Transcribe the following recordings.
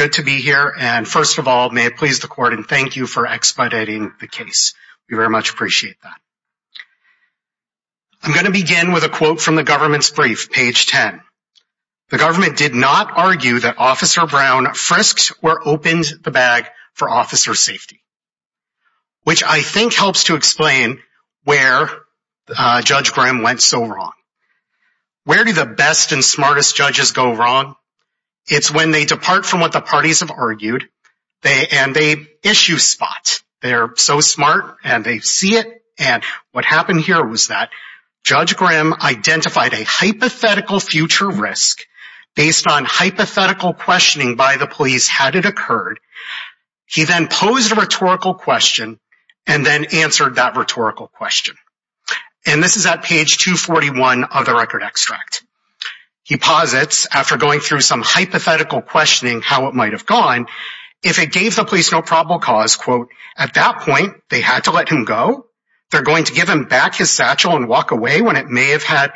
Good to be here and first of all, may it please the court and thank you for expediting the case. We very much appreciate that. I'm going to begin with a quote from the government's brief, page 10. The government did not argue that Officer Brown frisked or opened the bag on the day of the murder. Which I think helps to explain where Judge Graham went so wrong. Where do the best and smartest judges go wrong? It's when they depart from what the parties have argued and they issue spots. They're so smart and they see it and what happened here was that Judge Graham identified a hypothetical future risk based on hypothetical questioning by the police had it occurred. He then posed a rhetorical question and then answered that rhetorical question. And this is at page 241 of the record extract. He posits after going through some hypothetical questioning how it might have gone. If it gave the police no probable cause, quote, at that point, they had to let him go. They're going to give him back his satchel and walk away when it may have had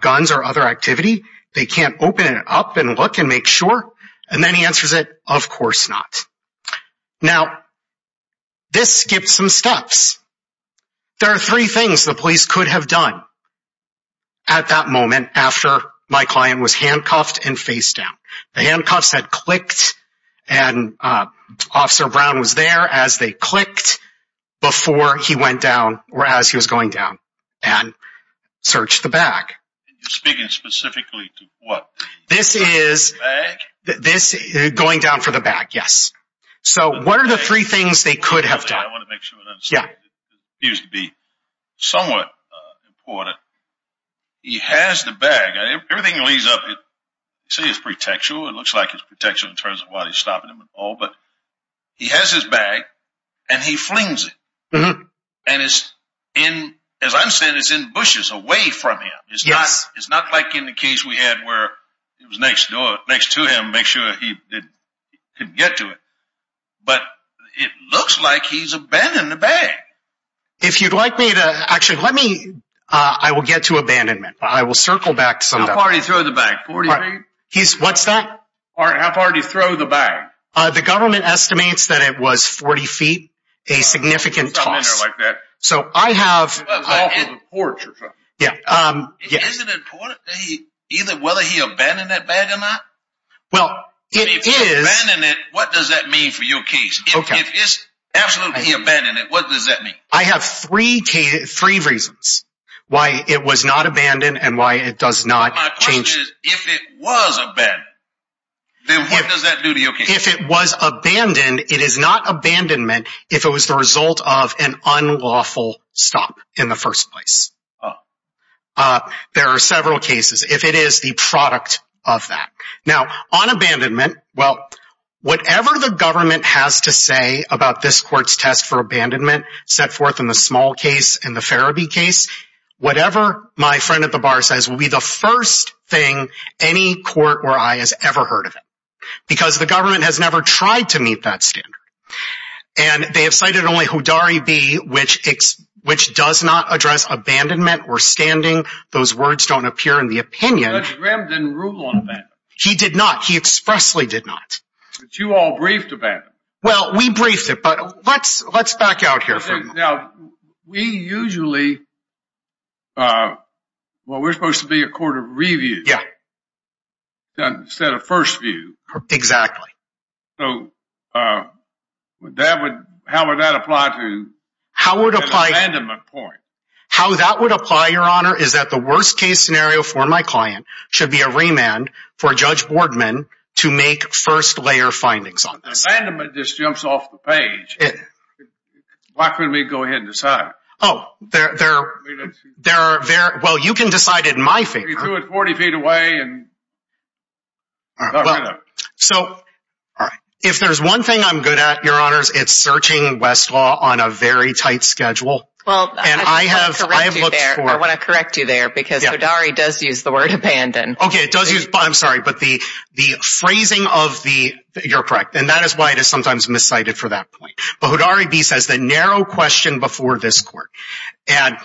guns or other activity. They can't open it up and look and make sure. And then he answers it, of course not. Now, this skipped some steps. There are three things the police could have done at that moment after my client was handcuffed and facedown. The handcuffs had clicked and Officer Brown was there as they clicked before he went down or as he was going down and searched the bag. You're speaking specifically to what? This is going down for the bag. Yes. So what are the three things they could have done? I want to make sure. Yeah. Used to be somewhat important. He has the bag. Everything leads up. See, it's pretextual. It looks like it's pretextual in terms of what he's stopping him at all. But he has his bag and he flings it. And it's in, as I'm saying, it's in bushes away from him. Yes. It's not like in the case we had where it was next to him to make sure he couldn't get to it. But it looks like he's abandoned the bag. If you'd like me to, actually, let me, I will get to abandonment. I will circle back to some of that. How far did he throw the bag, 40 feet? What's that? How far did he throw the bag? The government estimates that it was 40 feet, a significant toss. Something in there like that. So I have. Off of a porch or something. Is it important whether he abandoned that bag or not? Well, it is. If he abandoned it, what does that mean for your case? If it's absolutely abandoned, what does that mean? I have three reasons why it was not abandoned and why it does not change. My question is, if it was abandoned, then what does that do to your case? If it was abandoned, it is not abandonment if it was the result of an unlawful stop in the first place. There are several cases. If it is the product of that. Now, on abandonment, well, whatever the government has to say about this court's test for abandonment, set forth in the small case and the Ferebee case, whatever my friend at the bar says will be the first thing any court or I has ever heard of it. Because the government has never tried to meet that standard. And they have cited only Hodari v. which does not address abandonment or standing. Those words don't appear in the opinion. Judge Graham didn't rule on abandonment. He did not. He expressly did not. But you all briefed about it. Well, we briefed it, but let's back out here for a moment. Now, we usually, well, we're supposed to be a court of review. Yeah. Instead of first view. Exactly. So, how would that apply to an abandonment point? How that would apply, Your Honor, is that the worst case scenario for my client should be a remand for Judge Boardman to make first layer findings on this. Abandonment just jumps off the page. Why couldn't we go ahead and decide? Oh, there are, well, you can decide it in my favor. We threw it 40 feet away and got rid of it. So, if there's one thing I'm good at, Your Honors, it's searching Westlaw on a very tight schedule. Well, I want to correct you there because Hodari does use the word abandon. Okay, it does use, I'm sorry, but the phrasing of the, you're correct, and that is why it is sometimes miscited for that point. But Hodari v. says the narrow question before this court. And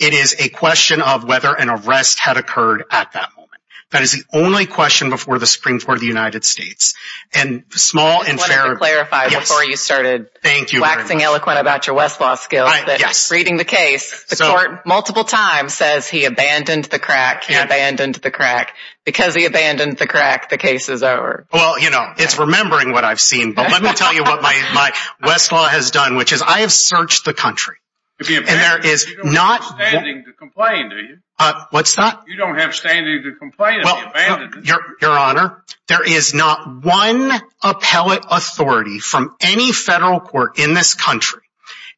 it is a question of whether an arrest had occurred at that moment. That is the only question before the Supreme Court of the United States. I wanted to clarify before you started waxing eloquent about your Westlaw skills. Reading the case, the court multiple times says he abandoned the crack, he abandoned the crack. Because he abandoned the crack, the case is over. Well, you know, it's remembering what I've seen. But let me tell you what my Westlaw has done, which is I have searched the country. You don't have standing to complain, do you? What's that? You don't have standing to complain if he abandoned it. Your Honor, there is not one appellate authority from any federal court in this country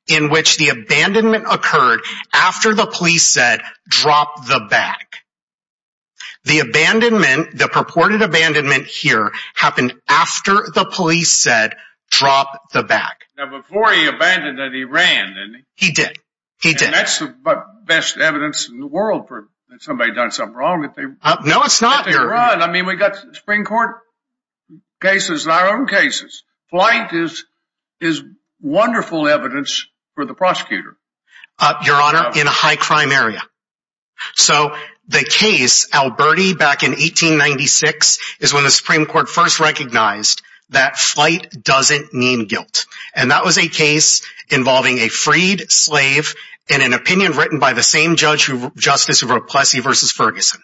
in which the abandonment occurred after the police said drop the bag. The abandonment, the purported abandonment here happened after the police said drop the bag. Now before he abandoned it, he ran, didn't he? He did. And that's the best evidence in the world that somebody has done something wrong. No, it's not, Your Honor. I mean, we've got Supreme Court cases and our own cases. Flight is wonderful evidence for the prosecutor. Your Honor, in a high crime area. So the case, Alberti back in 1896 is when the Supreme Court first recognized that flight doesn't mean guilt. And that was a case involving a freed slave in an opinion written by the same judge, justice who wrote Plessy v. Ferguson.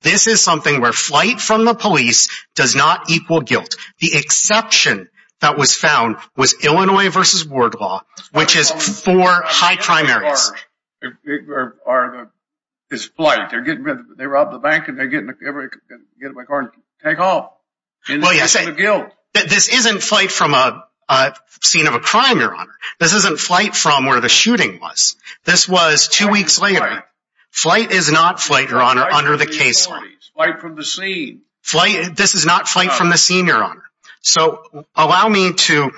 This is something where flight from the police does not equal guilt. The exception that was found was Illinois v. Wardlaw, which is four high crime areas. It's flight. They rob the bank and they get it by car and take off. Well, yes. It's guilt. This isn't flight from a scene of a crime, Your Honor. This isn't flight from where the shooting was. This was two weeks later. Flight is not flight, Your Honor, under the case law. Flight from the scene. This is not flight from the scene, Your Honor. So allow me to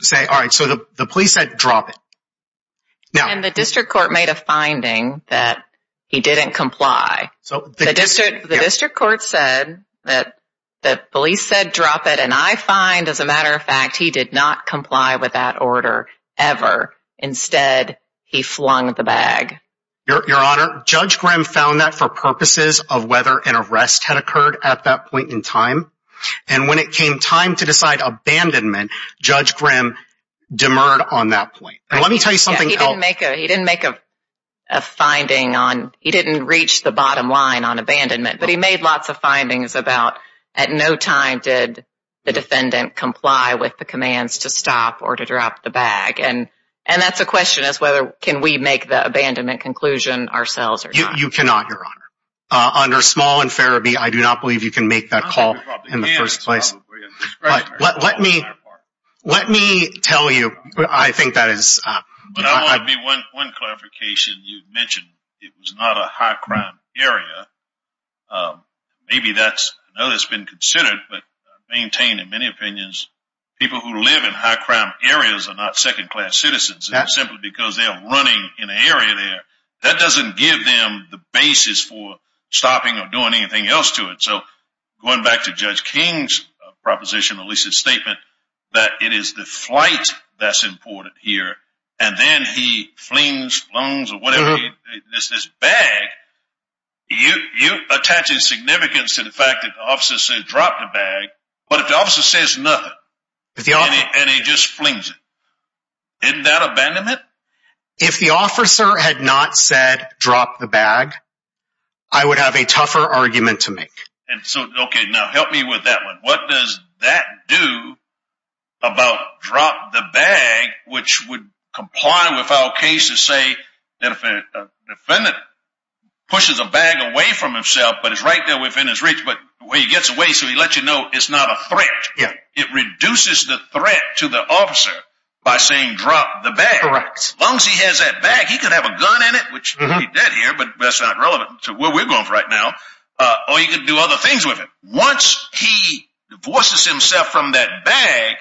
say, all right, so the police said drop it. And the district court made a finding that he didn't comply. The district court said that the police said drop it. And I find, as a matter of fact, he did not comply with that order ever. Instead, he flung the bag. Your Honor, Judge Grimm found that for purposes of whether an arrest had occurred at that point in time. And when it came time to decide abandonment, Judge Grimm demurred on that point. Let me tell you something else. He didn't make a finding on, he didn't reach the bottom line on abandonment. But he made lots of findings about at no time did the defendant comply with the commands to stop or to drop the bag. And that's a question as to whether we can make the abandonment conclusion ourselves or not. You cannot, Your Honor. Under small and fair, I do not believe you can make that call in the first place. Let me tell you, I think that is... But I want to make one clarification. You mentioned it was not a high-crime area. Maybe that's, I know that's been considered, but I maintain in many opinions, people who live in high-crime areas are not second-class citizens. Simply because they're running in an area there, that doesn't give them the basis for stopping or doing anything else to it. So, going back to Judge King's proposition, or at least his statement, that it is the flight that's important here. And then he flings, flings, or whatever, this bag, you're attaching significance to the fact that the officer said drop the bag. But if the officer says nothing, and he just flings it, isn't that abandonment? If the officer had not said drop the bag, I would have a tougher argument to make. And so, okay, now help me with that one. What does that do about drop the bag, which would comply with our case to say that if a defendant pushes a bag away from himself, but it's right there within his reach, but when he gets away, so he lets you know it's not a threat. Yeah. It reduces the threat to the officer by saying drop the bag. Correct. As long as he has that bag, he could have a gun in it, which he did here, but that's not relevant to where we're going right now. Or he could do other things with it. Once he divorces himself from that bag,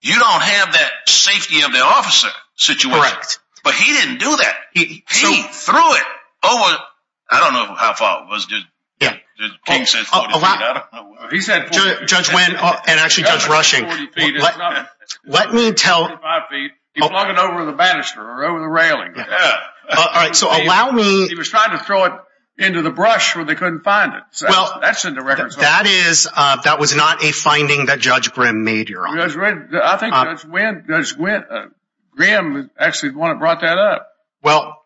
you don't have that safety of the officer situation. Correct. But he didn't do that. He threw it over, I don't know how far it was, Judge King says 40 feet. Judge Wynn and actually Judge Rushing, let me tell. He flung it over the banister or over the railing. All right. So allow me. He was trying to throw it into the brush where they couldn't find it. That's in the records. That was not a finding that Judge Grimm made here. I think Judge Grimm actually brought that up. Well,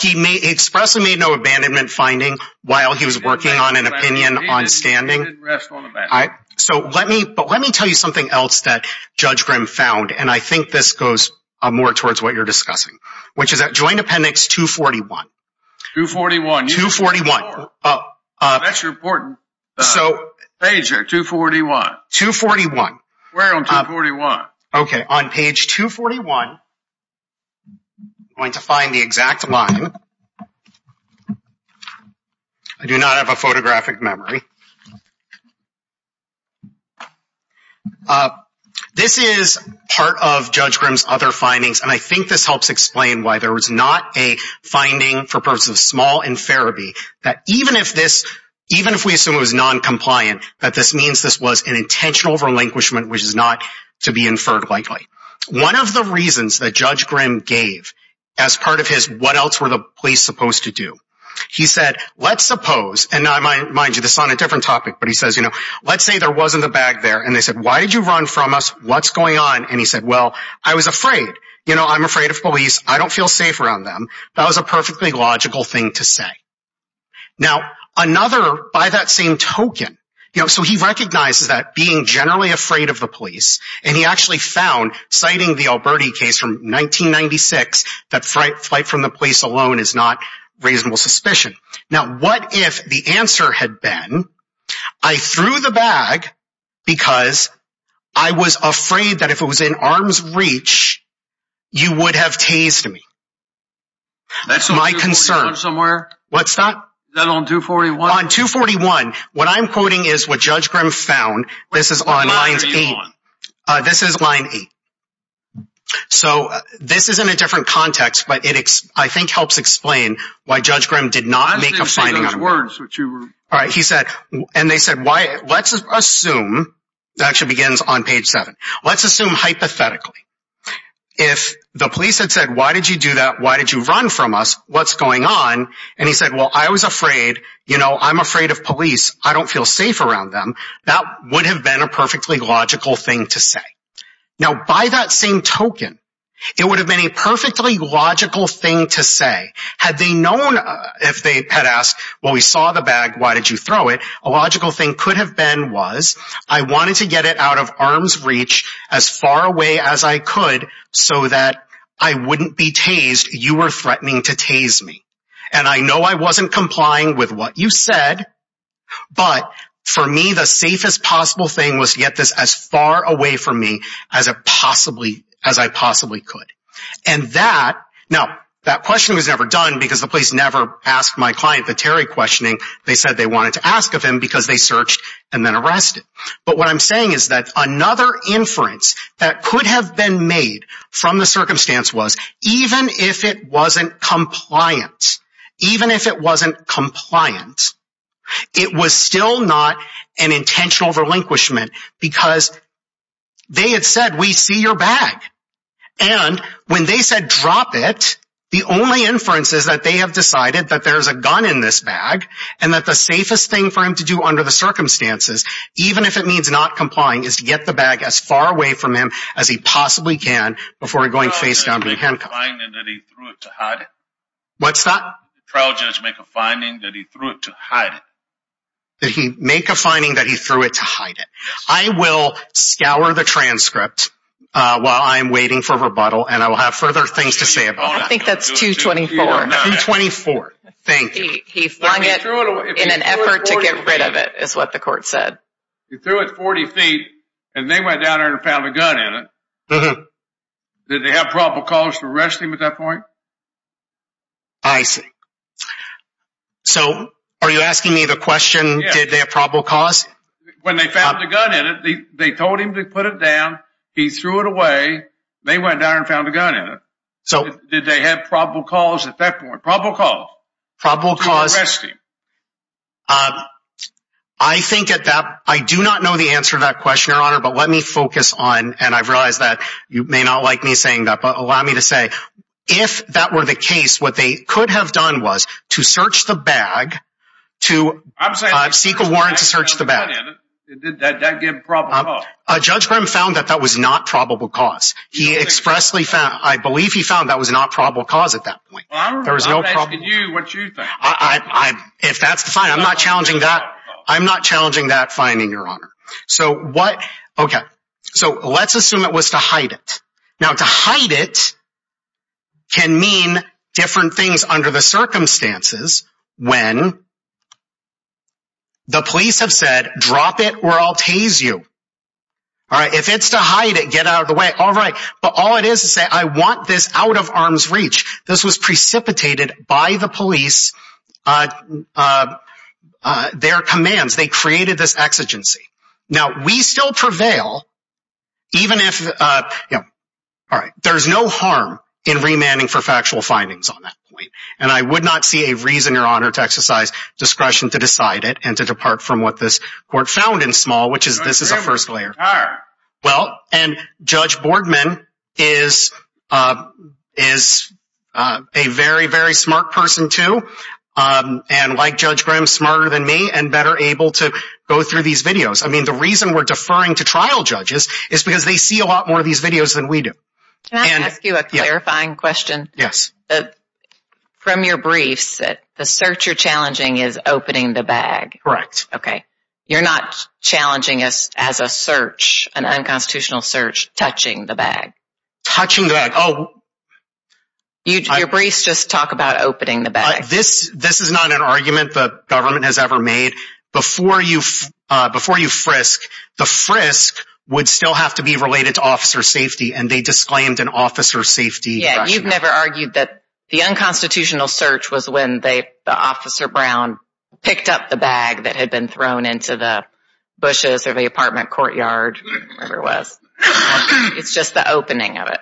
he expressly made no abandonment finding while he was working on an opinion on standing. So let me tell you something else that Judge Grimm found. And I think this goes more towards what you're discussing, which is that Joint Appendix 241. 241. 241. That's important. Page here, 241. 241. We're on 241. Okay. On page 241, I'm going to find the exact line. I do not have a photographic memory. This is part of Judge Grimm's other findings, and I think this helps explain why there was not a finding for purposes of small inferiority. That even if we assume it was noncompliant, that this means this was an intentional relinquishment, which is not to be inferred likely. One of the reasons that Judge Grimm gave as part of his what else were the police supposed to do, he said, let's suppose. And mind you, this is on a different topic, but he says, you know, let's say there wasn't a bag there. And they said, why did you run from us? What's going on? And he said, well, I was afraid. You know, I'm afraid of police. I don't feel safe around them. That was a perfectly logical thing to say. Now, another, by that same token, you know, so he recognizes that being generally afraid of the police, and he actually found, citing the Alberti case from 1996, that flight from the police alone is not reasonable suspicion. Now, what if the answer had been, I threw the bag because I was afraid that if it was in arm's reach, you would have tased me. That's my concern. Is that on 241? On 241. What I'm quoting is what Judge Grimm found. This is on line 8. This is line 8. So this is in a different context, but it, I think, helps explain why Judge Grimm did not make a finding on it. All right. He said, and they said, let's assume, that actually begins on page 7. Let's assume hypothetically. If the police had said, why did you do that? Why did you run from us? What's going on? And he said, well, I was afraid. You know, I'm afraid of police. I don't feel safe around them. That would have been a perfectly logical thing to say. Now, by that same token, it would have been a perfectly logical thing to say. Had they known, if they had asked, well, we saw the bag. Why did you throw it? A logical thing could have been was, I wanted to get it out of arm's reach as far away as I could so that I wouldn't be tased. You were threatening to tase me. And I know I wasn't complying with what you said, but for me, the safest possible thing was to get this as far away from me as I possibly could. And that, now, that question was never done because the police never asked my client the Terry questioning. They said they wanted to ask of him because they searched and then arrested. But what I'm saying is that another inference that could have been made from the circumstance was, even if it wasn't compliant, even if it wasn't compliant, it was still not an intentional relinquishment because they had said, we see your bag. And when they said drop it, the only inference is that they have decided that there's a gun in this bag and that the safest thing for him to do under the circumstances, even if it means not complying, is to get the bag as far away from him as he possibly can before going face down. Did the trial judge make a finding that he threw it to hide it? What's that? Did the trial judge make a finding that he threw it to hide it? Did he make a finding that he threw it to hide it? I will scour the transcript while I'm waiting for rebuttal, and I will have further things to say about that. I think that's 224. 224, thank you. He flung it in an effort to get rid of it, is what the court said. He threw it 40 feet, and they went down there and found a gun in it. Did they have probable cause to arrest him at that point? I see. So are you asking me the question, did they have probable cause? When they found the gun in it, they told him to put it down. He threw it away. They went down and found a gun in it. Did they have probable cause at that point? Probable cause. Probable cause. To arrest him. I do not know the answer to that question, Your Honor, but let me focus on, and I realize that you may not like me saying that, but allow me to say, if that were the case, what they could have done was to search the bag, to seek a warrant to search the bag. Did that give probable cause? Judge Grimm found that that was not probable cause. I believe he found that was not probable cause at that point. I'm asking you what you think. If that's the finding, I'm not challenging that finding, Your Honor. So let's assume it was to hide it. Now, to hide it can mean different things under the circumstances when the police have said, drop it or I'll tase you. If it's to hide it, get out of the way, all right. But all it is to say, I want this out of arm's reach. This was precipitated by the police, their commands. They created this exigency. Now, we still prevail even if, all right, there's no harm in remanding for factual findings on that point. And I would not see a reason, Your Honor, to exercise discretion to decide it and to depart from what this court found in Small, which is this is a first layer. Well, and Judge Boardman is a very, very smart person, too, and like Judge Grimm, smarter than me and better able to go through these videos. I mean, the reason we're deferring to trial judges is because they see a lot more of these videos than we do. Can I ask you a clarifying question? Yes. From your briefs, the search you're challenging is opening the bag. Correct. Okay. You're not challenging us as a search, an unconstitutional search, touching the bag. Touching the bag. Oh. Your briefs just talk about opening the bag. This is not an argument the government has ever made. Before you frisk, the frisk would still have to be related to officer safety, and they disclaimed an officer safety question. I've never argued that the unconstitutional search was when the officer Brown picked up the bag that had been thrown into the bushes or the apartment courtyard, whatever it was. It's just the opening of it.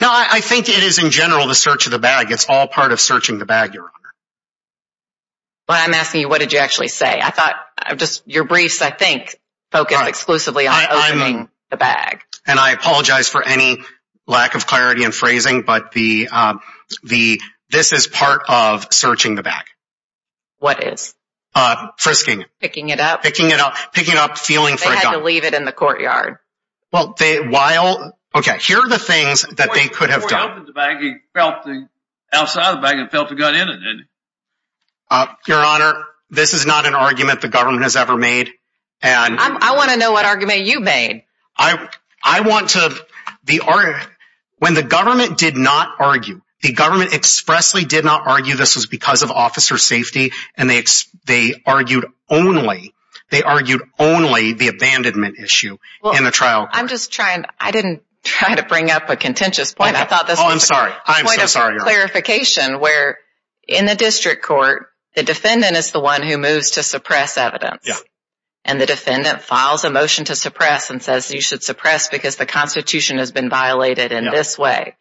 No, I think it is, in general, the search of the bag. It's all part of searching the bag, Your Honor. Well, I'm asking you, what did you actually say? I thought just your briefs, I think, focus exclusively on opening the bag. And I apologize for any lack of clarity in phrasing, but this is part of searching the bag. What is? Frisking. Picking it up? Picking it up. Feeling for a gun. They had to leave it in the courtyard. Okay, here are the things that they could have done. Before he opened the bag, he felt the outside of the bag and felt the gun in it. Your Honor, this is not an argument the government has ever made. I want to know what argument you made. I want to—when the government did not argue, the government expressly did not argue this was because of officer safety, and they argued only the abandonment issue in the trial court. I'm just trying—I didn't try to bring up a contentious point. Oh, I'm sorry. I'm so sorry, Your Honor. I thought this was a point of clarification where in the district court, the defendant is the one who moves to suppress evidence. Yeah. And the defendant files a motion to suppress and says you should suppress because the Constitution has been violated in this way.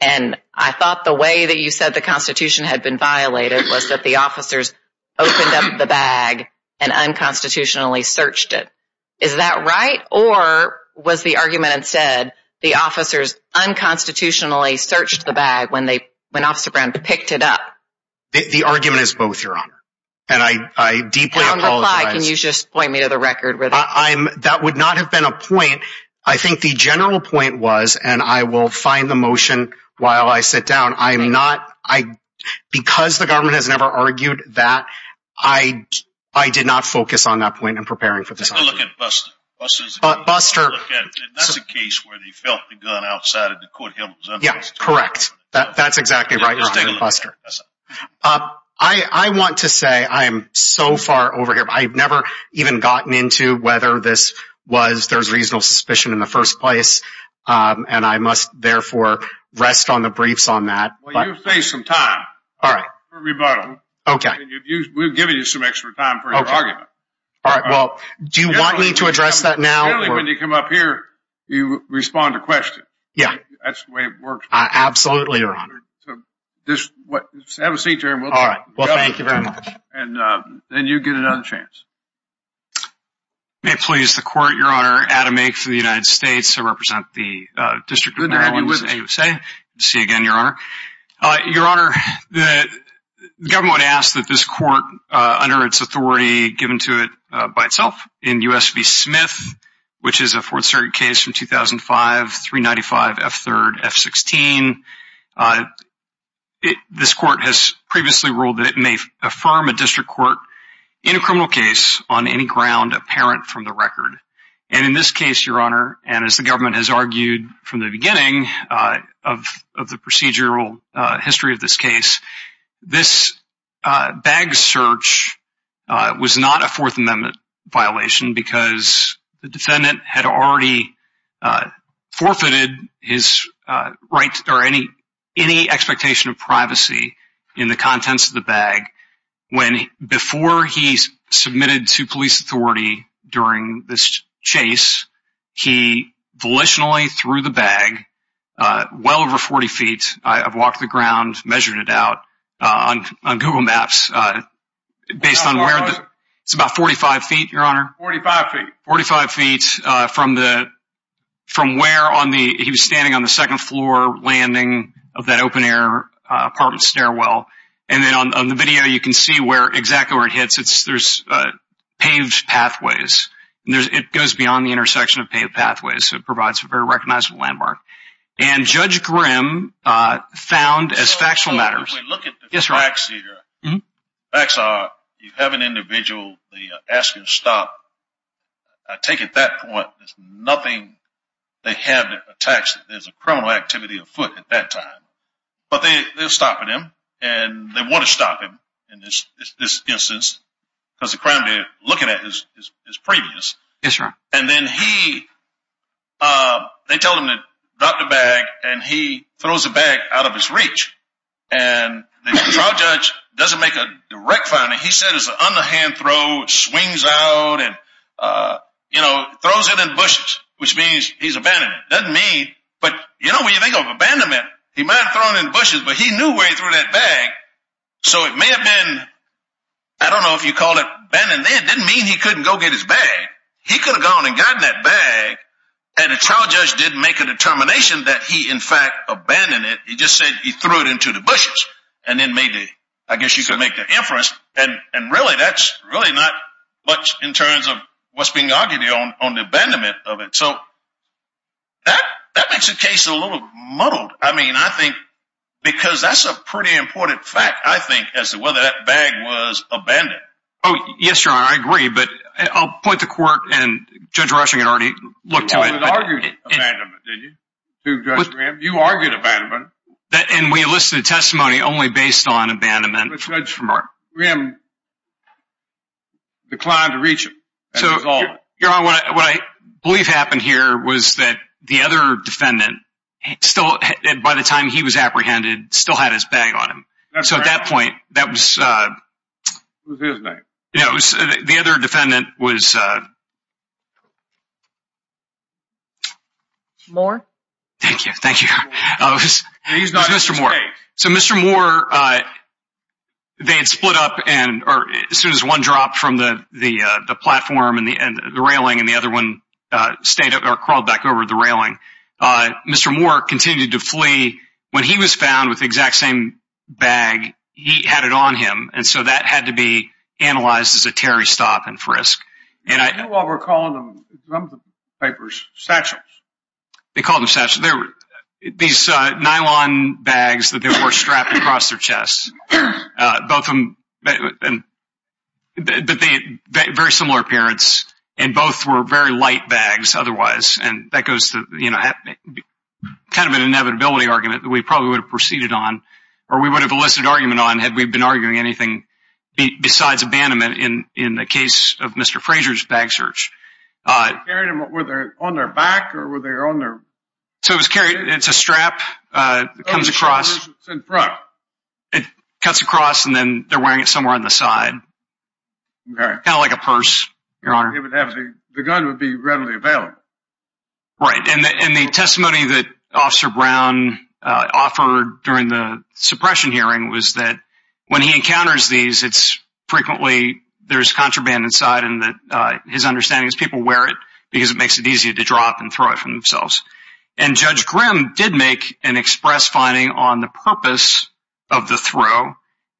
And I thought the way that you said the Constitution had been violated was that the officers opened up the bag and unconstitutionally searched it. Is that right? Or was the argument instead the officers unconstitutionally searched the bag when they—when Officer Brown picked it up? The argument is both, Your Honor. And I deeply apologize. Can you just point me to the record? That would not have been a point. I think the general point was, and I will find the motion while I sit down, I'm not—because the government has never argued that, I did not focus on that point in preparing for this argument. Take a look at Buster. Buster— And that's a case where they felt the gun outside of the courthouse. Yeah, correct. That's exactly right, Your Honor, Buster. I want to say I am so far over here. I've never even gotten into whether this was—there's reasonable suspicion in the first place, and I must therefore rest on the briefs on that. Well, you've faced some time for rebuttal. Okay. And we've given you some extra time for your argument. Okay. All right, well, do you want me to address that now? Generally, when you come up here, you respond to questions. Yeah. That's the way it works. Absolutely, Your Honor. Have a seat, Jeremy. All right. Well, thank you very much. And then you get another chance. May it please the Court, Your Honor. Adam Ake for the United States. I represent the District of Maryland, USA. Good to have you with us. Good to see you again, Your Honor. Your Honor, the government would ask that this court, under its authority given to it by itself, in U.S. v. Smith, which is a Fourth Circuit case from 2005, 395 F3rd F16, this court has previously ruled that it may affirm a district court in a criminal case on any ground apparent from the record. And in this case, Your Honor, and as the government has argued from the beginning of the procedural history of this case, this bag search was not a Fourth Amendment violation because the defendant had already forfeited his right or any expectation of privacy in the contents of the bag. Before he submitted to police authority during this chase, he volitionally threw the bag well over 40 feet. I've walked the ground measuring it out on Google Maps based on where it's about 45 feet, Your Honor. Forty-five feet. Forty-five feet from where he was standing on the second floor landing of that open-air apartment stairwell. And then on the video, you can see exactly where it hits. There's paved pathways. It goes beyond the intersection of paved pathways, so it provides a very recognizable landmark. And Judge Grimm found as factual matters. If we look at the facts here, facts are you have an individual, they ask you to stop. I take it that point, there's nothing they have attached. There's a criminal activity afoot at that time. But they're stopping him, and they want to stop him in this instance because the crime they're looking at is previous. And then he, they tell him to drop the bag, and he throws the bag out of his reach. And the trial judge doesn't make a direct finding. He says it's an underhand throw, swings out, and throws it in bushes, which means he's abandoned. Doesn't mean, but you know when you think of abandonment, he might have thrown it in bushes, but he knew where he threw that bag. So it may have been, I don't know if you call it abandonment, didn't mean he couldn't go get his bag. He could have gone and gotten that bag, and the trial judge didn't make a determination that he in fact abandoned it. He just said he threw it into the bushes, and then made the, I guess you could make the inference. And really that's really not much in terms of what's being argued on the abandonment of it. So that makes the case a little muddled. I mean, I think, because that's a pretty important fact, I think, as to whether that bag was abandoned. Oh, yes, Your Honor, I agree, but I'll point the court, and Judge Rushing can already look to it. But it argued abandonment, didn't you? To Judge Grim, you argued abandonment. And we enlisted testimony only based on abandonment. But Judge Grim declined to reach him. Your Honor, what I believe happened here was that the other defendant, by the time he was apprehended, still had his bag on him. So at that point, that was... It was his bag. The other defendant was... Moore? Thank you, thank you. It was Mr. Moore. So Mr. Moore, they had split up, or as soon as one dropped from the platform and the railing and the other one crawled back over the railing, Mr. Moore continued to flee. When he was found with the exact same bag, he had it on him. And so that had to be analyzed as a Terry stop and frisk. You know what we're calling them in some of the papers? Satchels. They called them satchels. These nylon bags that they wore strapped across their chests. Both of them... But they had very similar appearance, and both were very light bags otherwise. And that goes to kind of an inevitability argument that we probably would have proceeded on, or we would have elicited argument on had we been arguing anything besides abandonment in the case of Mr. Frazier's bag search. Were they on their back, or were they on their... So it was carried. It's a strap. It comes across. It cuts across, and then they're wearing it somewhere on the side. Kind of like a purse, Your Honor. The gun would be readily available. Right. And the testimony that Officer Brown offered during the suppression hearing was that when he encounters these, it's frequently there's contraband inside, and his understanding is people wear it because it makes it easier to drop and throw it from themselves. And Judge Grimm did make an express finding on the purpose of the throw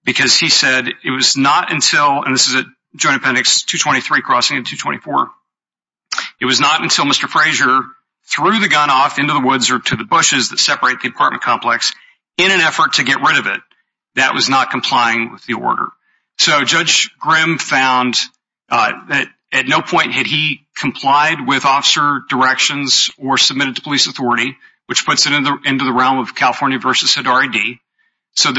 because he said it was not until, and this is a Joint Appendix 223 crossing in 224, it was not until Mr. Frazier threw the gun off into the woods or to the bushes that separate the apartment complex in an effort to get rid of it that was not complying with the order. So Judge Grimm found that at no point had he complied with officer directions or submitted to police authority, which puts it into the realm of California v. Hidari D. So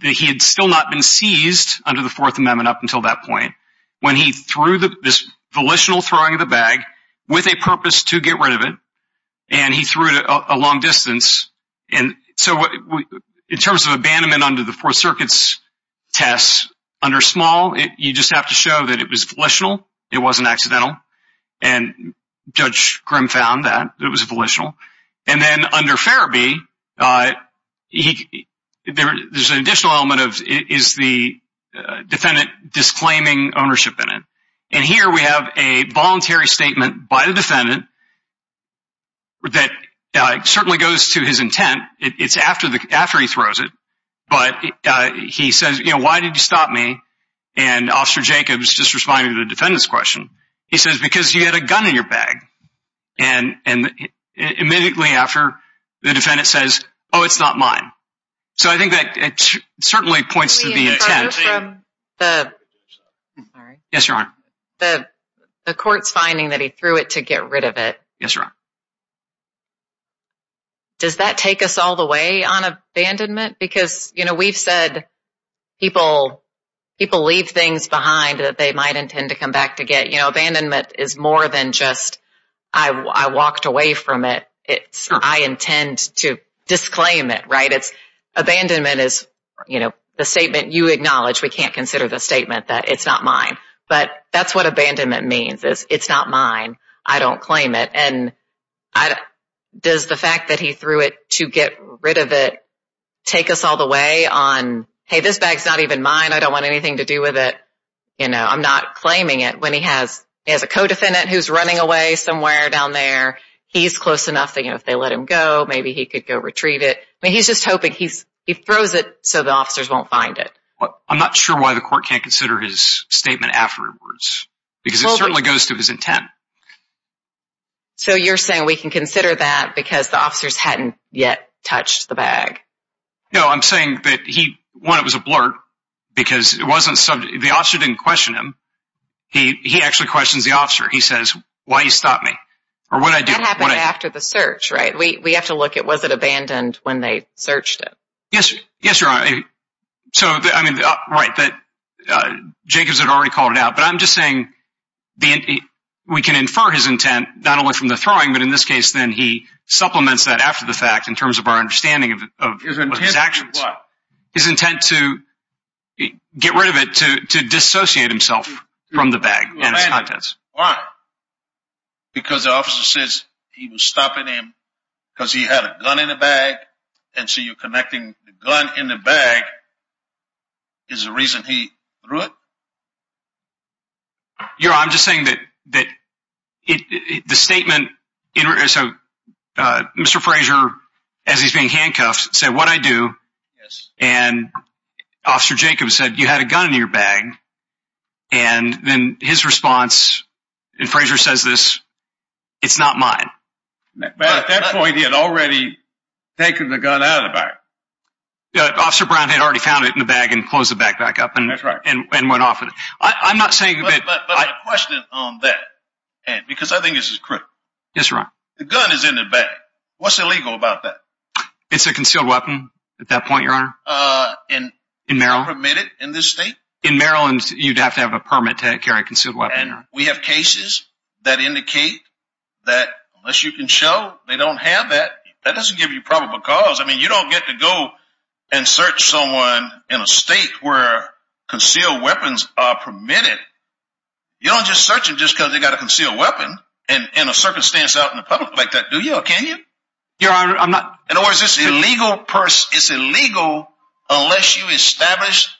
he had still not been seized under the Fourth Amendment up until that point. When he threw this volitional throwing of the bag with a purpose to get rid of it, and he threw it a long distance. And so in terms of abandonment under the Fourth Circuit's tests, under small, you just have to show that it was volitional, it wasn't accidental, and Judge Grimm found that it was volitional. And then under Farrabee, there's an additional element of is the defendant disclaiming ownership in it. And here we have a voluntary statement by the defendant that certainly goes to his intent. It's after he throws it, but he says, you know, why did you stop me? And Officer Jacobs just responded to the defendant's question. He says, because you had a gun in your bag. And immediately after, the defendant says, oh, it's not mine. So I think that certainly points to the intent. Yes, Your Honor. The court's finding that he threw it to get rid of it. Yes, Your Honor. Does that take us all the way on abandonment? Because, you know, we've said people leave things behind that they might intend to come back to get. You know, abandonment is more than just I walked away from it. It's I intend to disclaim it, right? Abandonment is, you know, the statement you acknowledge we can't consider the statement that it's not mine. But that's what abandonment means is it's not mine. I don't claim it. And does the fact that he threw it to get rid of it take us all the way on, hey, this bag's not even mine. I don't want anything to do with it. You know, I'm not claiming it. When he has a co-defendant who's running away somewhere down there, he's close enough that, you know, if they let him go, maybe he could go retrieve it. I mean, he's just hoping he throws it so the officers won't find it. I'm not sure why the court can't consider his statement afterwards because it certainly goes to his intent. So you're saying we can consider that because the officers hadn't yet touched the bag? No, I'm saying that he, one, it was a blurt because it wasn't subject. The officer didn't question him. He actually questions the officer. He says, why'd you stop me? Or what'd I do? That happened after the search, right? We have to look at was it abandoned when they searched it? Yes, Your Honor. So, I mean, right, that Jacobs had already called it out. But I'm just saying we can infer his intent not only from the throwing, but in this case then he supplements that after the fact in terms of our understanding of his actions. His intent to do what? His intent to get rid of it, to dissociate himself from the bag and its contents. Why? Because the officer says he was stopping him because he had a gun in the bag. And so you're connecting the gun in the bag is the reason he threw it? Your Honor, I'm just saying that the statement, so Mr. Frazier, as he's being handcuffed, said, what'd I do? Yes. And Officer Jacobs said, you had a gun in your bag. And then his response, and Frazier says this, it's not mine. But at that point he had already taken the gun out of the bag. Officer Brown had already found it in the bag and closed the bag back up. That's right. And went off with it. But my question on that, because I think this is critical. Yes, Your Honor. The gun is in the bag. What's illegal about that? It's a concealed weapon at that point, Your Honor. And permitted in this state? In Maryland, you'd have to have a permit to carry a concealed weapon. And we have cases that indicate that unless you can show they don't have that, that doesn't give you probable cause. I mean, you don't get to go and search someone in a state where concealed weapons are permitted. You don't just search them just because they've got a concealed weapon in a circumstance out in the public like that, do you? Or can you? Your Honor, I'm not. In other words, it's illegal unless you establish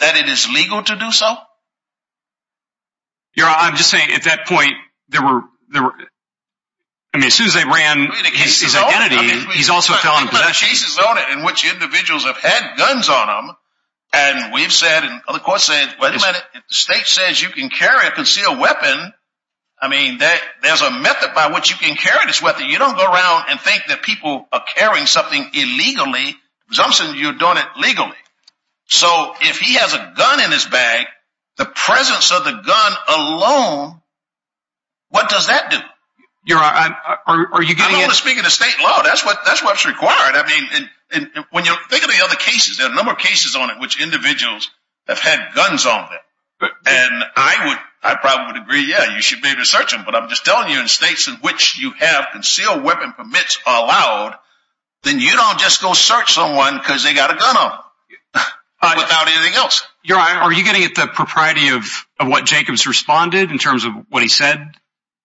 that it is legal to do so? Your Honor, I'm just saying at that point, as soon as they ran his identity, he also fell into possession. In which individuals have had guns on them. And we've said, and other courts have said, if the state says you can carry a concealed weapon, I mean, there's a method by which you can carry this weapon. You don't go around and think that people are carrying something illegally, as long as you're doing it legally. So if he has a gun in his bag, the presence of the gun alone, what does that do? Your Honor, are you getting at? I'm only speaking to state law. That's what's required. I mean, when you think of the other cases, there are a number of cases on it which individuals have had guns on them. And I probably would agree, yeah, you should maybe search them. But I'm just telling you, in states in which you have concealed weapon permits allowed, then you don't just go search someone because they've got a gun on them. Without anything else. Your Honor, are you getting at the propriety of what Jacobs responded in terms of what he said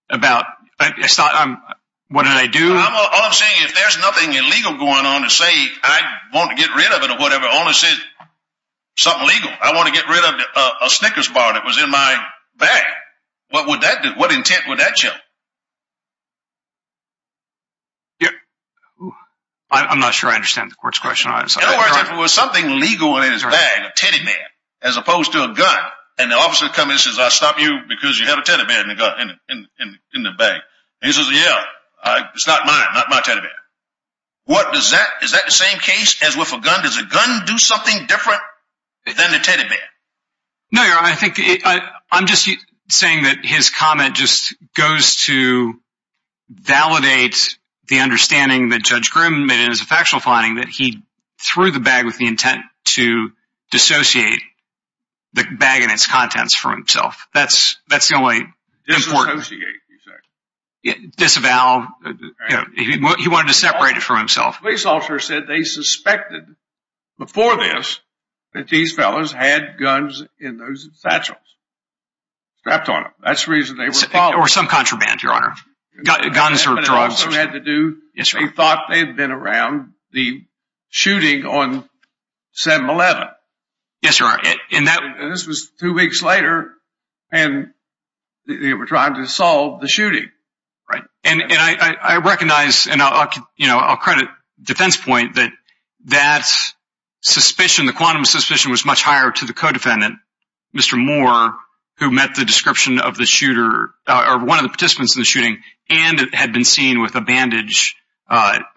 about, what did I do? All I'm saying, if there's nothing illegal going on, to say I want to get rid of it or whatever, only says something legal. I want to get rid of a Snickers bar that was in my bag. What would that do? What intent would that show? I'm not sure I understand the court's question. In other words, if there was something legal in his bag, a teddy bear, as opposed to a gun, and the officer comes in and says, I'll stop you because you have a teddy bear in the bag. And he says, yeah, it's not mine, not my teddy bear. What does that, is that the same case as with a gun? Does a gun do something different than a teddy bear? No, Your Honor. I'm just saying that his comment just goes to validate the understanding that Judge Grimm made in his factual finding that he threw the bag with the intent to dissociate the bag and its contents from himself. That's the only important. Disassociate, you said. Disavow. He wanted to separate it from himself. My police officer said they suspected before this that these fellows had guns in those satchels. Strapped on them. That's the reason they were following. Or some contraband, Your Honor. Guns or drugs. They thought they had been around the shooting on 7-11. Yes, Your Honor. And I recognize, and I'll credit defense point, that that suspicion, the quantum suspicion, was much higher to the co-defendant, Mr. Moore, who met the description of the shooter, or one of the participants in the shooting, and had been seen with a bandage on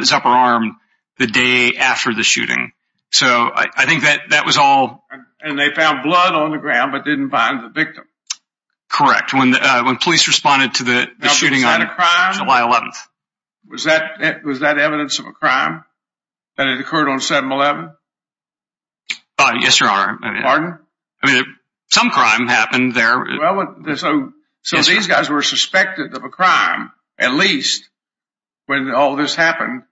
his upper arm the day after the shooting. So I think that that was all. And they found blood on the ground but didn't find the victim. Correct. When police responded to the shooting on July 11th. Was that evidence of a crime? That it occurred on 7-11? Yes, Your Honor. Pardon? Some crime happened there. So these guys were suspected of a crime, at least, when all this happened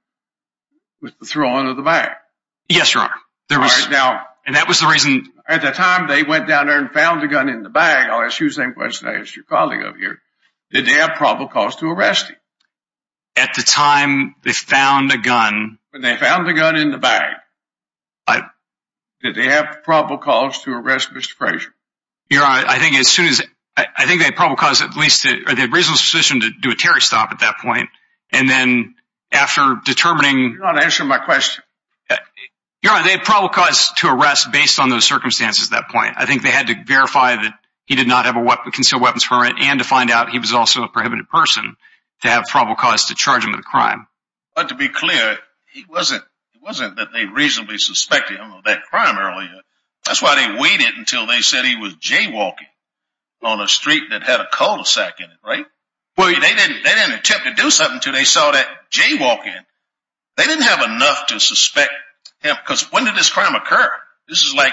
with the throwing of the bag. Yes, Your Honor. And that was the reason. At the time they went down there and found the gun in the bag, I'll ask you the same question I asked your colleague up here, did they have probable cause to arrest him? At the time they found the gun. When they found the gun in the bag, did they have probable cause to arrest Mr. Frazier? Your Honor, I think as soon as, I think they had probable cause at least, or they had reasonable suspicion to do a Terry stop at that point. And then after determining. You're not answering my question. Your Honor, they had probable cause to arrest based on those circumstances at that point. I think they had to verify that he did not have a concealed weapons permit. And to find out he was also a prohibited person to have probable cause to charge him with a crime. But to be clear, it wasn't that they reasonably suspected him of that crime earlier. That's why they waited until they said he was jaywalking on a street that had a cul-de-sac in it, right? Well, they didn't attempt to do something until they saw that jaywalking. They didn't have enough to suspect him. Because when did this crime occur? This is like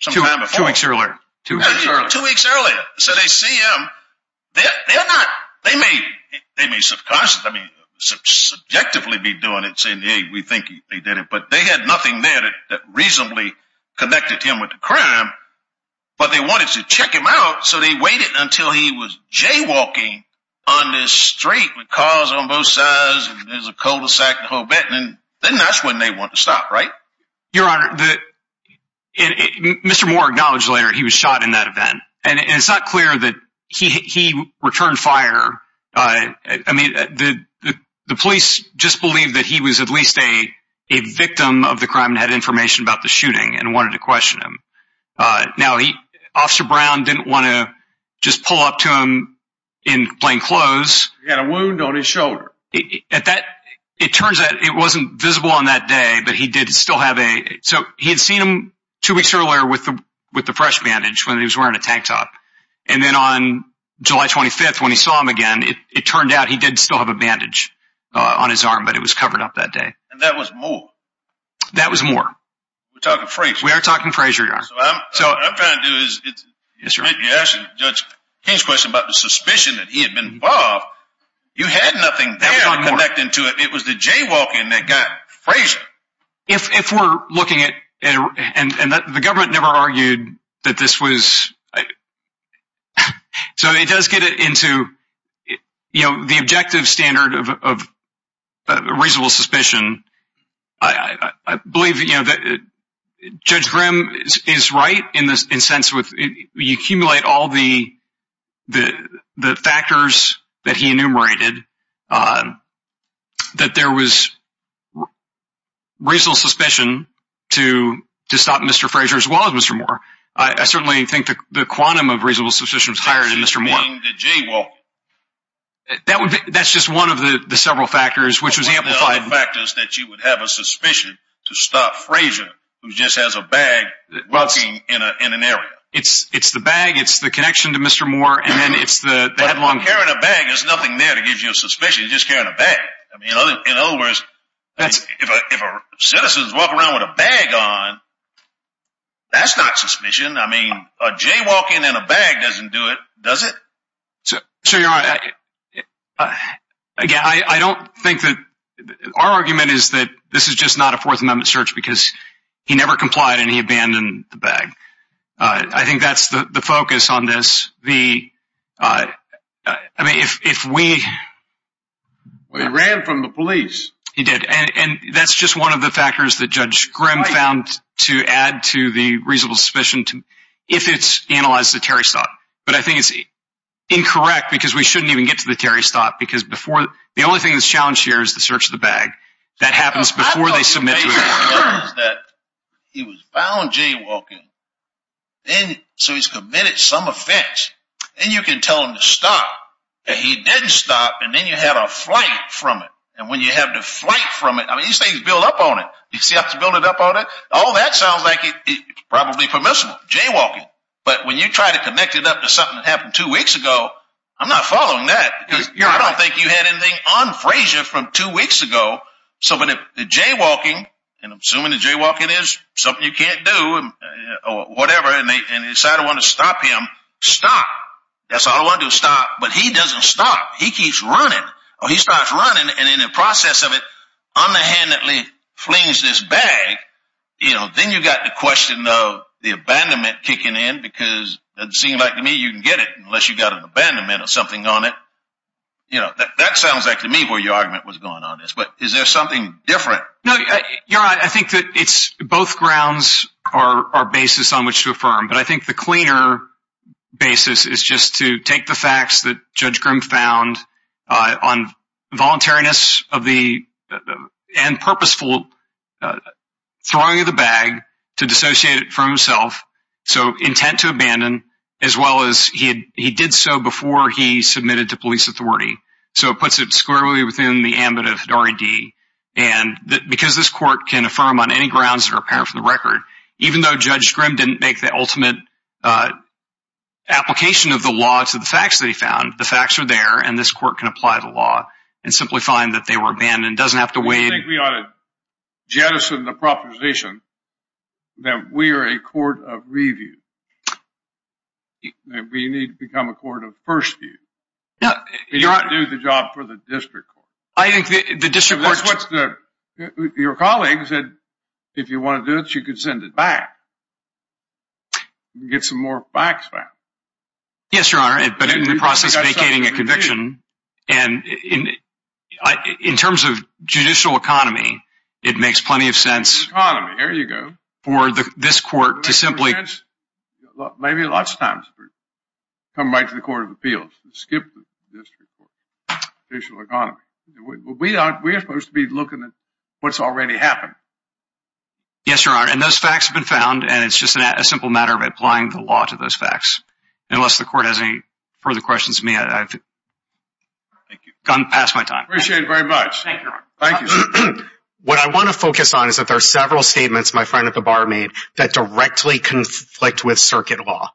some time before. Two weeks earlier. Two weeks earlier. So they see him. They may subjectively be doing it. Saying, hey, we think they did it. But they had nothing there that reasonably connected him with the crime. But they wanted to check him out. So they waited until he was jaywalking on this street with cars on both sides. And there's a cul-de-sac the whole bit. And then that's when they wanted to stop, right? Your Honor, Mr. Moore acknowledged later he was shot in that event. And it's not clear that he returned fire. I mean, the police just believed that he was at least a victim of the crime and had information about the shooting. And wanted to question him. Now, Officer Brown didn't want to just pull up to him in plain clothes. He had a wound on his shoulder. It turns out it wasn't visible on that day. So he had seen him two weeks earlier with the fresh bandage when he was wearing a tank top. And then on July 25th when he saw him again, it turned out he did still have a bandage on his arm. But it was covered up that day. And that was Moore? That was Moore. We're talking Frazier, Your Honor. So what I'm trying to do is, you asked Judge King's question about the suspicion that he had been involved. You had nothing there connecting to it. It was the jaywalking that got Frazier. If we're looking at, and the government never argued that this was... So it does get it into, you know, the objective standard of reasonable suspicion. I believe that Judge Grimm is right in the sense that you accumulate all the factors that he enumerated. That there was reasonable suspicion to stop Mr. Frazier as well as Mr. Moore. I certainly think the quantum of reasonable suspicion was higher than Mr. Moore. That's just one of the several factors which was amplified. One of the other factors that you would have a suspicion to stop Frazier, who just has a bag, walking in an area. It's the bag, it's the connection to Mr. Moore, and then it's the headlong... But carrying a bag, there's nothing there to give you a suspicion. You're just carrying a bag. In other words, if a citizen is walking around with a bag on, that's not suspicion. I mean, a jaywalking and a bag doesn't do it, does it? So you're right. Again, I don't think that... Our argument is that this is just not a Fourth Amendment search because he never complied and he abandoned the bag. I think that's the focus on this. I mean, if we... He ran from the police. He did. And that's just one of the factors that Judge Grimm found to add to the reasonable suspicion, if it's analyzed to Terry Stott. But I think it's incorrect because we shouldn't even get to the Terry Stott because before... The only thing that's challenged here is the search of the bag. That happens before they submit to... I thought you made your point that he was found jaywalking, so he's committed some offense. Then you can tell him to stop, and he didn't stop, and then you have a flight from it. And when you have the flight from it, I mean, these things build up on it. You see how it's building up on it? All that sounds like it's probably permissible, jaywalking. But when you try to connect it up to something that happened two weeks ago, I'm not following that. Because I don't think you had anything on Frazier from two weeks ago. So when the jaywalking, and I'm assuming the jaywalking is something you can't do or whatever, and they decide to want to stop him, stop. That's all I want to do, stop. But he doesn't stop. He keeps running. He starts running, and in the process of it, unhandedly flings this bag. Then you've got the question of the abandonment kicking in, because it seems like to me you can get it unless you've got an abandonment or something on it. That sounds like to me where your argument was going on. But is there something different? No, you're right. But I think the cleaner basis is just to take the facts that Judge Grimm found on voluntariness and purposeful throwing of the bag to dissociate it from himself, so intent to abandon, as well as he did so before he submitted to police authority. So it puts it squarely within the ambit of the R.E.D. Because this court can affirm on any grounds that are apparent from the record, even though Judge Grimm didn't make the ultimate application of the law to the facts that he found, the facts are there, and this court can apply the law and simply find that they were abandoned. It doesn't have to weigh in. I think we ought to jettison the proposition that we are a court of review. We need to become a court of first view. We can't do the job for the district court. Your colleague said if you want to do it, you could send it back and get some more facts back. Yes, Your Honor, but in the process of vacating a conviction. And in terms of judicial economy, it makes plenty of sense for this court to simply… Skip the district court, judicial economy. We are supposed to be looking at what's already happened. Yes, Your Honor, and those facts have been found, and it's just a simple matter of applying the law to those facts. Unless the court has any further questions for me, I've gone past my time. Appreciate it very much. Thank you, Your Honor. What I want to focus on is that there are several statements my friend at the bar made that directly conflict with circuit law.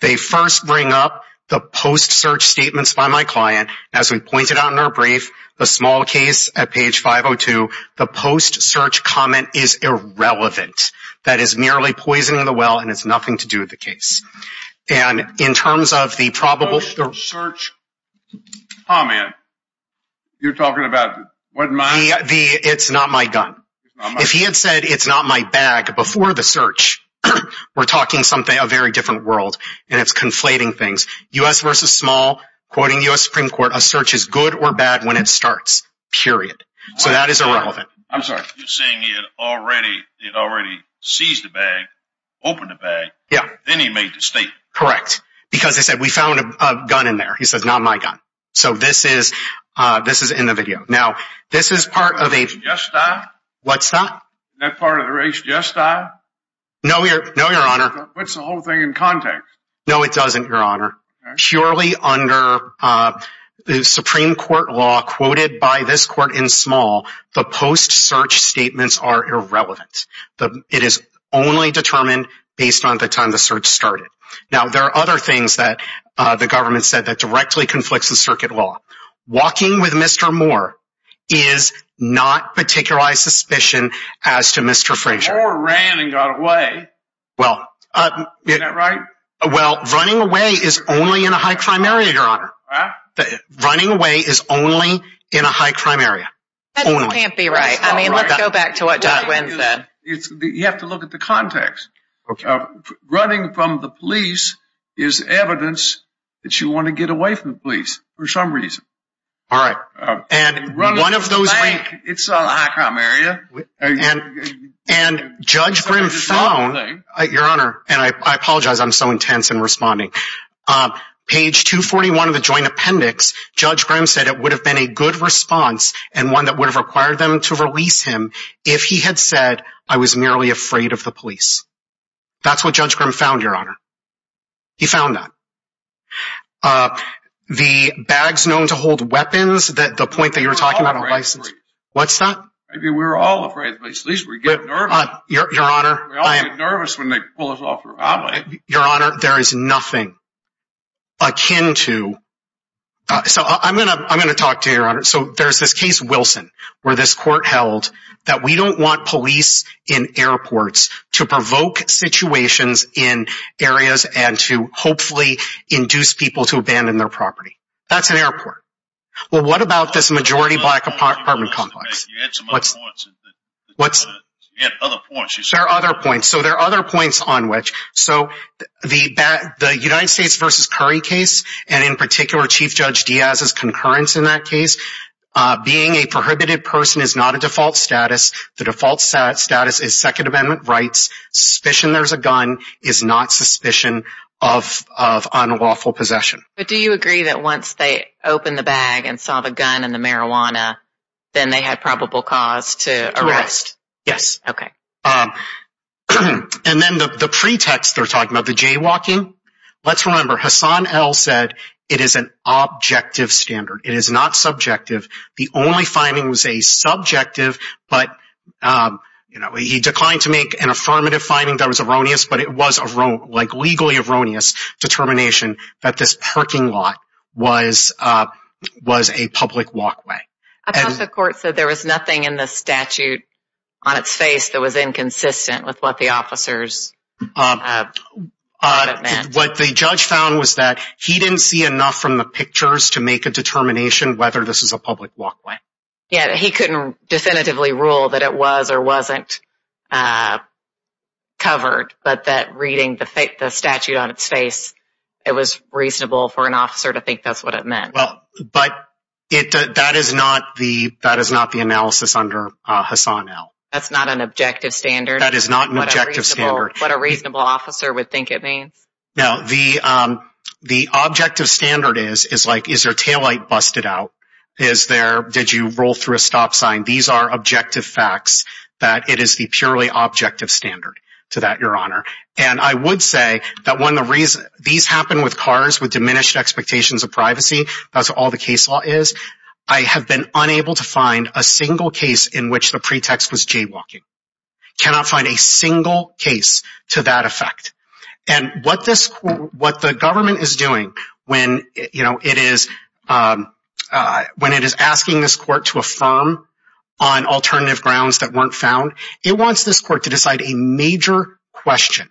They first bring up the post-search statements by my client. As we pointed out in our brief, the small case at page 502, the post-search comment is irrelevant. That is merely poisoning the well, and it's nothing to do with the case. And in terms of the probable… Post-search comment? You're talking about… It's not my gun. If he had said it's not my bag before the search, we're talking a very different world, and it's conflating things. U.S. v. Small, quoting U.S. Supreme Court, a search is good or bad when it starts, period. So that is irrelevant. I'm sorry. You're saying he had already seized the bag, opened the bag. Yeah. Then he made the statement. Correct. Because he said, we found a gun in there. He says, not my gun. So this is in the video. Now, this is part of a… Isn't that part of the race just now? What's that? Isn't that part of the race just now? No, Your Honor. That puts the whole thing in context. No, it doesn't, Your Honor. Okay. Surely under the Supreme Court law quoted by this court in Small, the post-search statements are irrelevant. It is only determined based on the time the search started. Now, there are other things that the government said that directly conflicts with circuit law. Walking with Mr. Moore is not particularized suspicion as to Mr. Frazier. Moore ran and got away. Well… Isn't that right? Well, running away is only in a high-crime area, Your Honor. Huh? Running away is only in a high-crime area. Only. That can't be right. I mean, let's go back to what Dot Wynn said. You have to look at the context. Okay. Running from the police is evidence that you want to get away from the police for some reason. All right. And one of those… It's a high-crime area. And Judge Grimm found… Your Honor, and I apologize. I'm so intense in responding. Page 241 of the joint appendix, Judge Grimm said it would have been a good response and one that would have required them to release him if he had said, I was merely afraid of the police. That's what Judge Grimm found, Your Honor. He found that. The bags known to hold weapons, the point that you were talking about… We're all afraid of the police. What's that? I mean, we're all afraid of the police. At least we get nervous. Your Honor… We all get nervous when they pull us off the road. So, I'm going to talk to you, Your Honor. So, there's this case, Wilson, where this court held that we don't want police in airports to provoke situations in areas and to hopefully induce people to abandon their property. That's an airport. Well, what about this majority black apartment complex? You had some other points. What's… You had other points. There are other points. So, there are other points on which… The United States v. Curry case, and in particular, Chief Judge Diaz's concurrence in that case, being a prohibited person is not a default status. The default status is Second Amendment rights. Suspicion there's a gun is not suspicion of unlawful possession. But do you agree that once they opened the bag and saw the gun and the marijuana, then they had probable cause to arrest? Correct. Yes. Okay. And then the pretext they're talking about, the jaywalking, let's remember, Hassan L. said it is an objective standard. It is not subjective. The only finding was a subjective, but, you know, he declined to make an affirmative finding that was erroneous, but it was, like, legally erroneous determination that this parking lot was a public walkway. I thought the court said there was nothing in the statute on its face that was inconsistent with what the officers thought it meant. What the judge found was that he didn't see enough from the pictures to make a determination whether this is a public walkway. Yeah. He couldn't definitively rule that it was or wasn't covered, but that reading the statute on its face, it was reasonable for an officer to think that's what it meant. Well, but that is not the analysis under Hassan L. That's not an objective standard? That is not an objective standard. What a reasonable officer would think it means? Now, the objective standard is, like, is their taillight busted out? Did you roll through a stop sign? These are objective facts that it is the purely objective standard to that, Your Honor. And I would say that these happen with cars with diminished expectations of privacy. That's all the case law is. I have been unable to find a single case in which the pretext was jaywalking. Cannot find a single case to that effect. And what the government is doing when it is asking this court to affirm on alternative grounds that weren't found, it wants this court to decide a major question.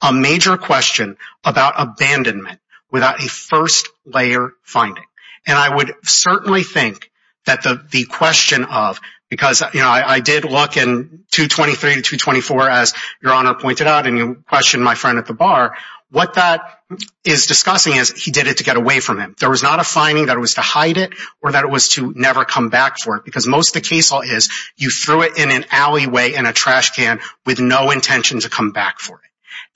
A major question about abandonment without a first-layer finding. And I would certainly think that the question of, because I did look in 223 to 224, as Your Honor pointed out, and you questioned my friend at the bar, what that is discussing is he did it to get away from him. There was not a finding that it was to hide it or that it was to never come back for it. Because most of the case law is you threw it in an alleyway in a trash can with no intention to come back for it.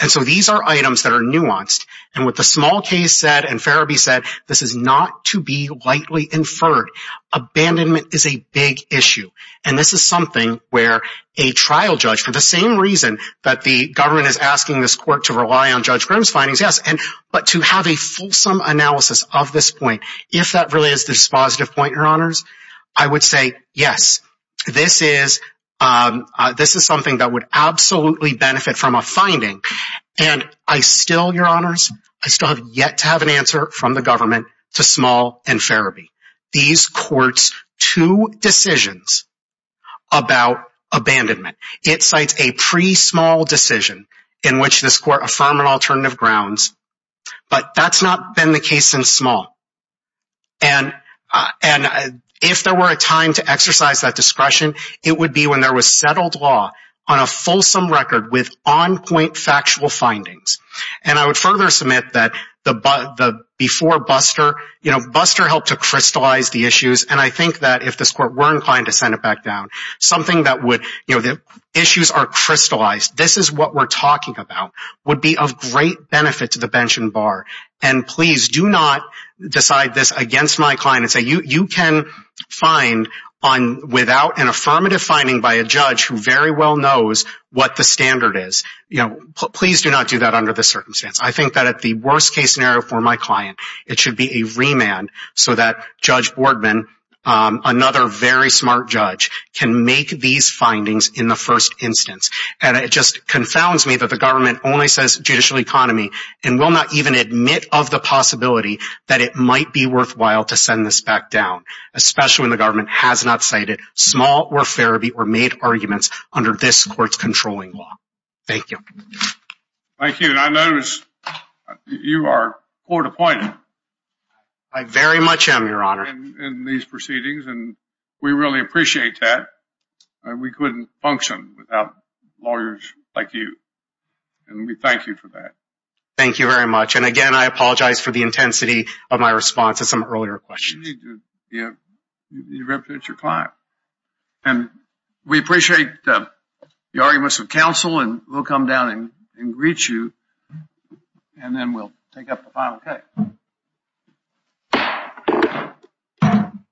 And so these are items that are nuanced. And what the small case said and Ferebee said, this is not to be lightly inferred. Abandonment is a big issue. And this is something where a trial judge, for the same reason that the government is asking this court to rely on Judge Grimm's findings, yes. But to have a fulsome analysis of this point, if that really is the dispositive point, Your Honors, I would say yes. This is something that would absolutely benefit from a finding. And I still, Your Honors, I still have yet to have an answer from the government to Small and Ferebee. These courts, two decisions about abandonment. It cites a pre-Small decision in which this court affirmed an alternative grounds. But that's not been the case since Small. And if there were a time to exercise that discretion, it would be when there was settled law on a fulsome record with on-point factual findings. And I would further submit that before Buster, you know, Buster helped to crystallize the issues. And I think that if this court were inclined to send it back down, something that would, you know, the issues are crystallized. This is what we're talking about would be of great benefit to the bench and bar. And please do not decide this against my client and say you can find without an affirmative finding by a judge who very well knows what the standard is. You know, please do not do that under this circumstance. I think that at the worst case scenario for my client, it should be a remand so that Judge Boardman, another very smart judge, can make these findings in the first instance. And it just confounds me that the government only says judicial economy and will not even admit of the possibility that it might be worthwhile to send this back down, especially when the government has not cited Small or Ferebee or made arguments under this court's controlling law. Thank you. Thank you. And I notice you are court appointed. I very much am, Your Honor. In these proceedings, and we really appreciate that. We couldn't function without lawyers like you. And we thank you for that. Thank you very much. And again, I apologize for the intensity of my response to some earlier questions. You represent your client. And we appreciate the arguments of counsel. And we'll come down and greet you. And then we'll take up the final case.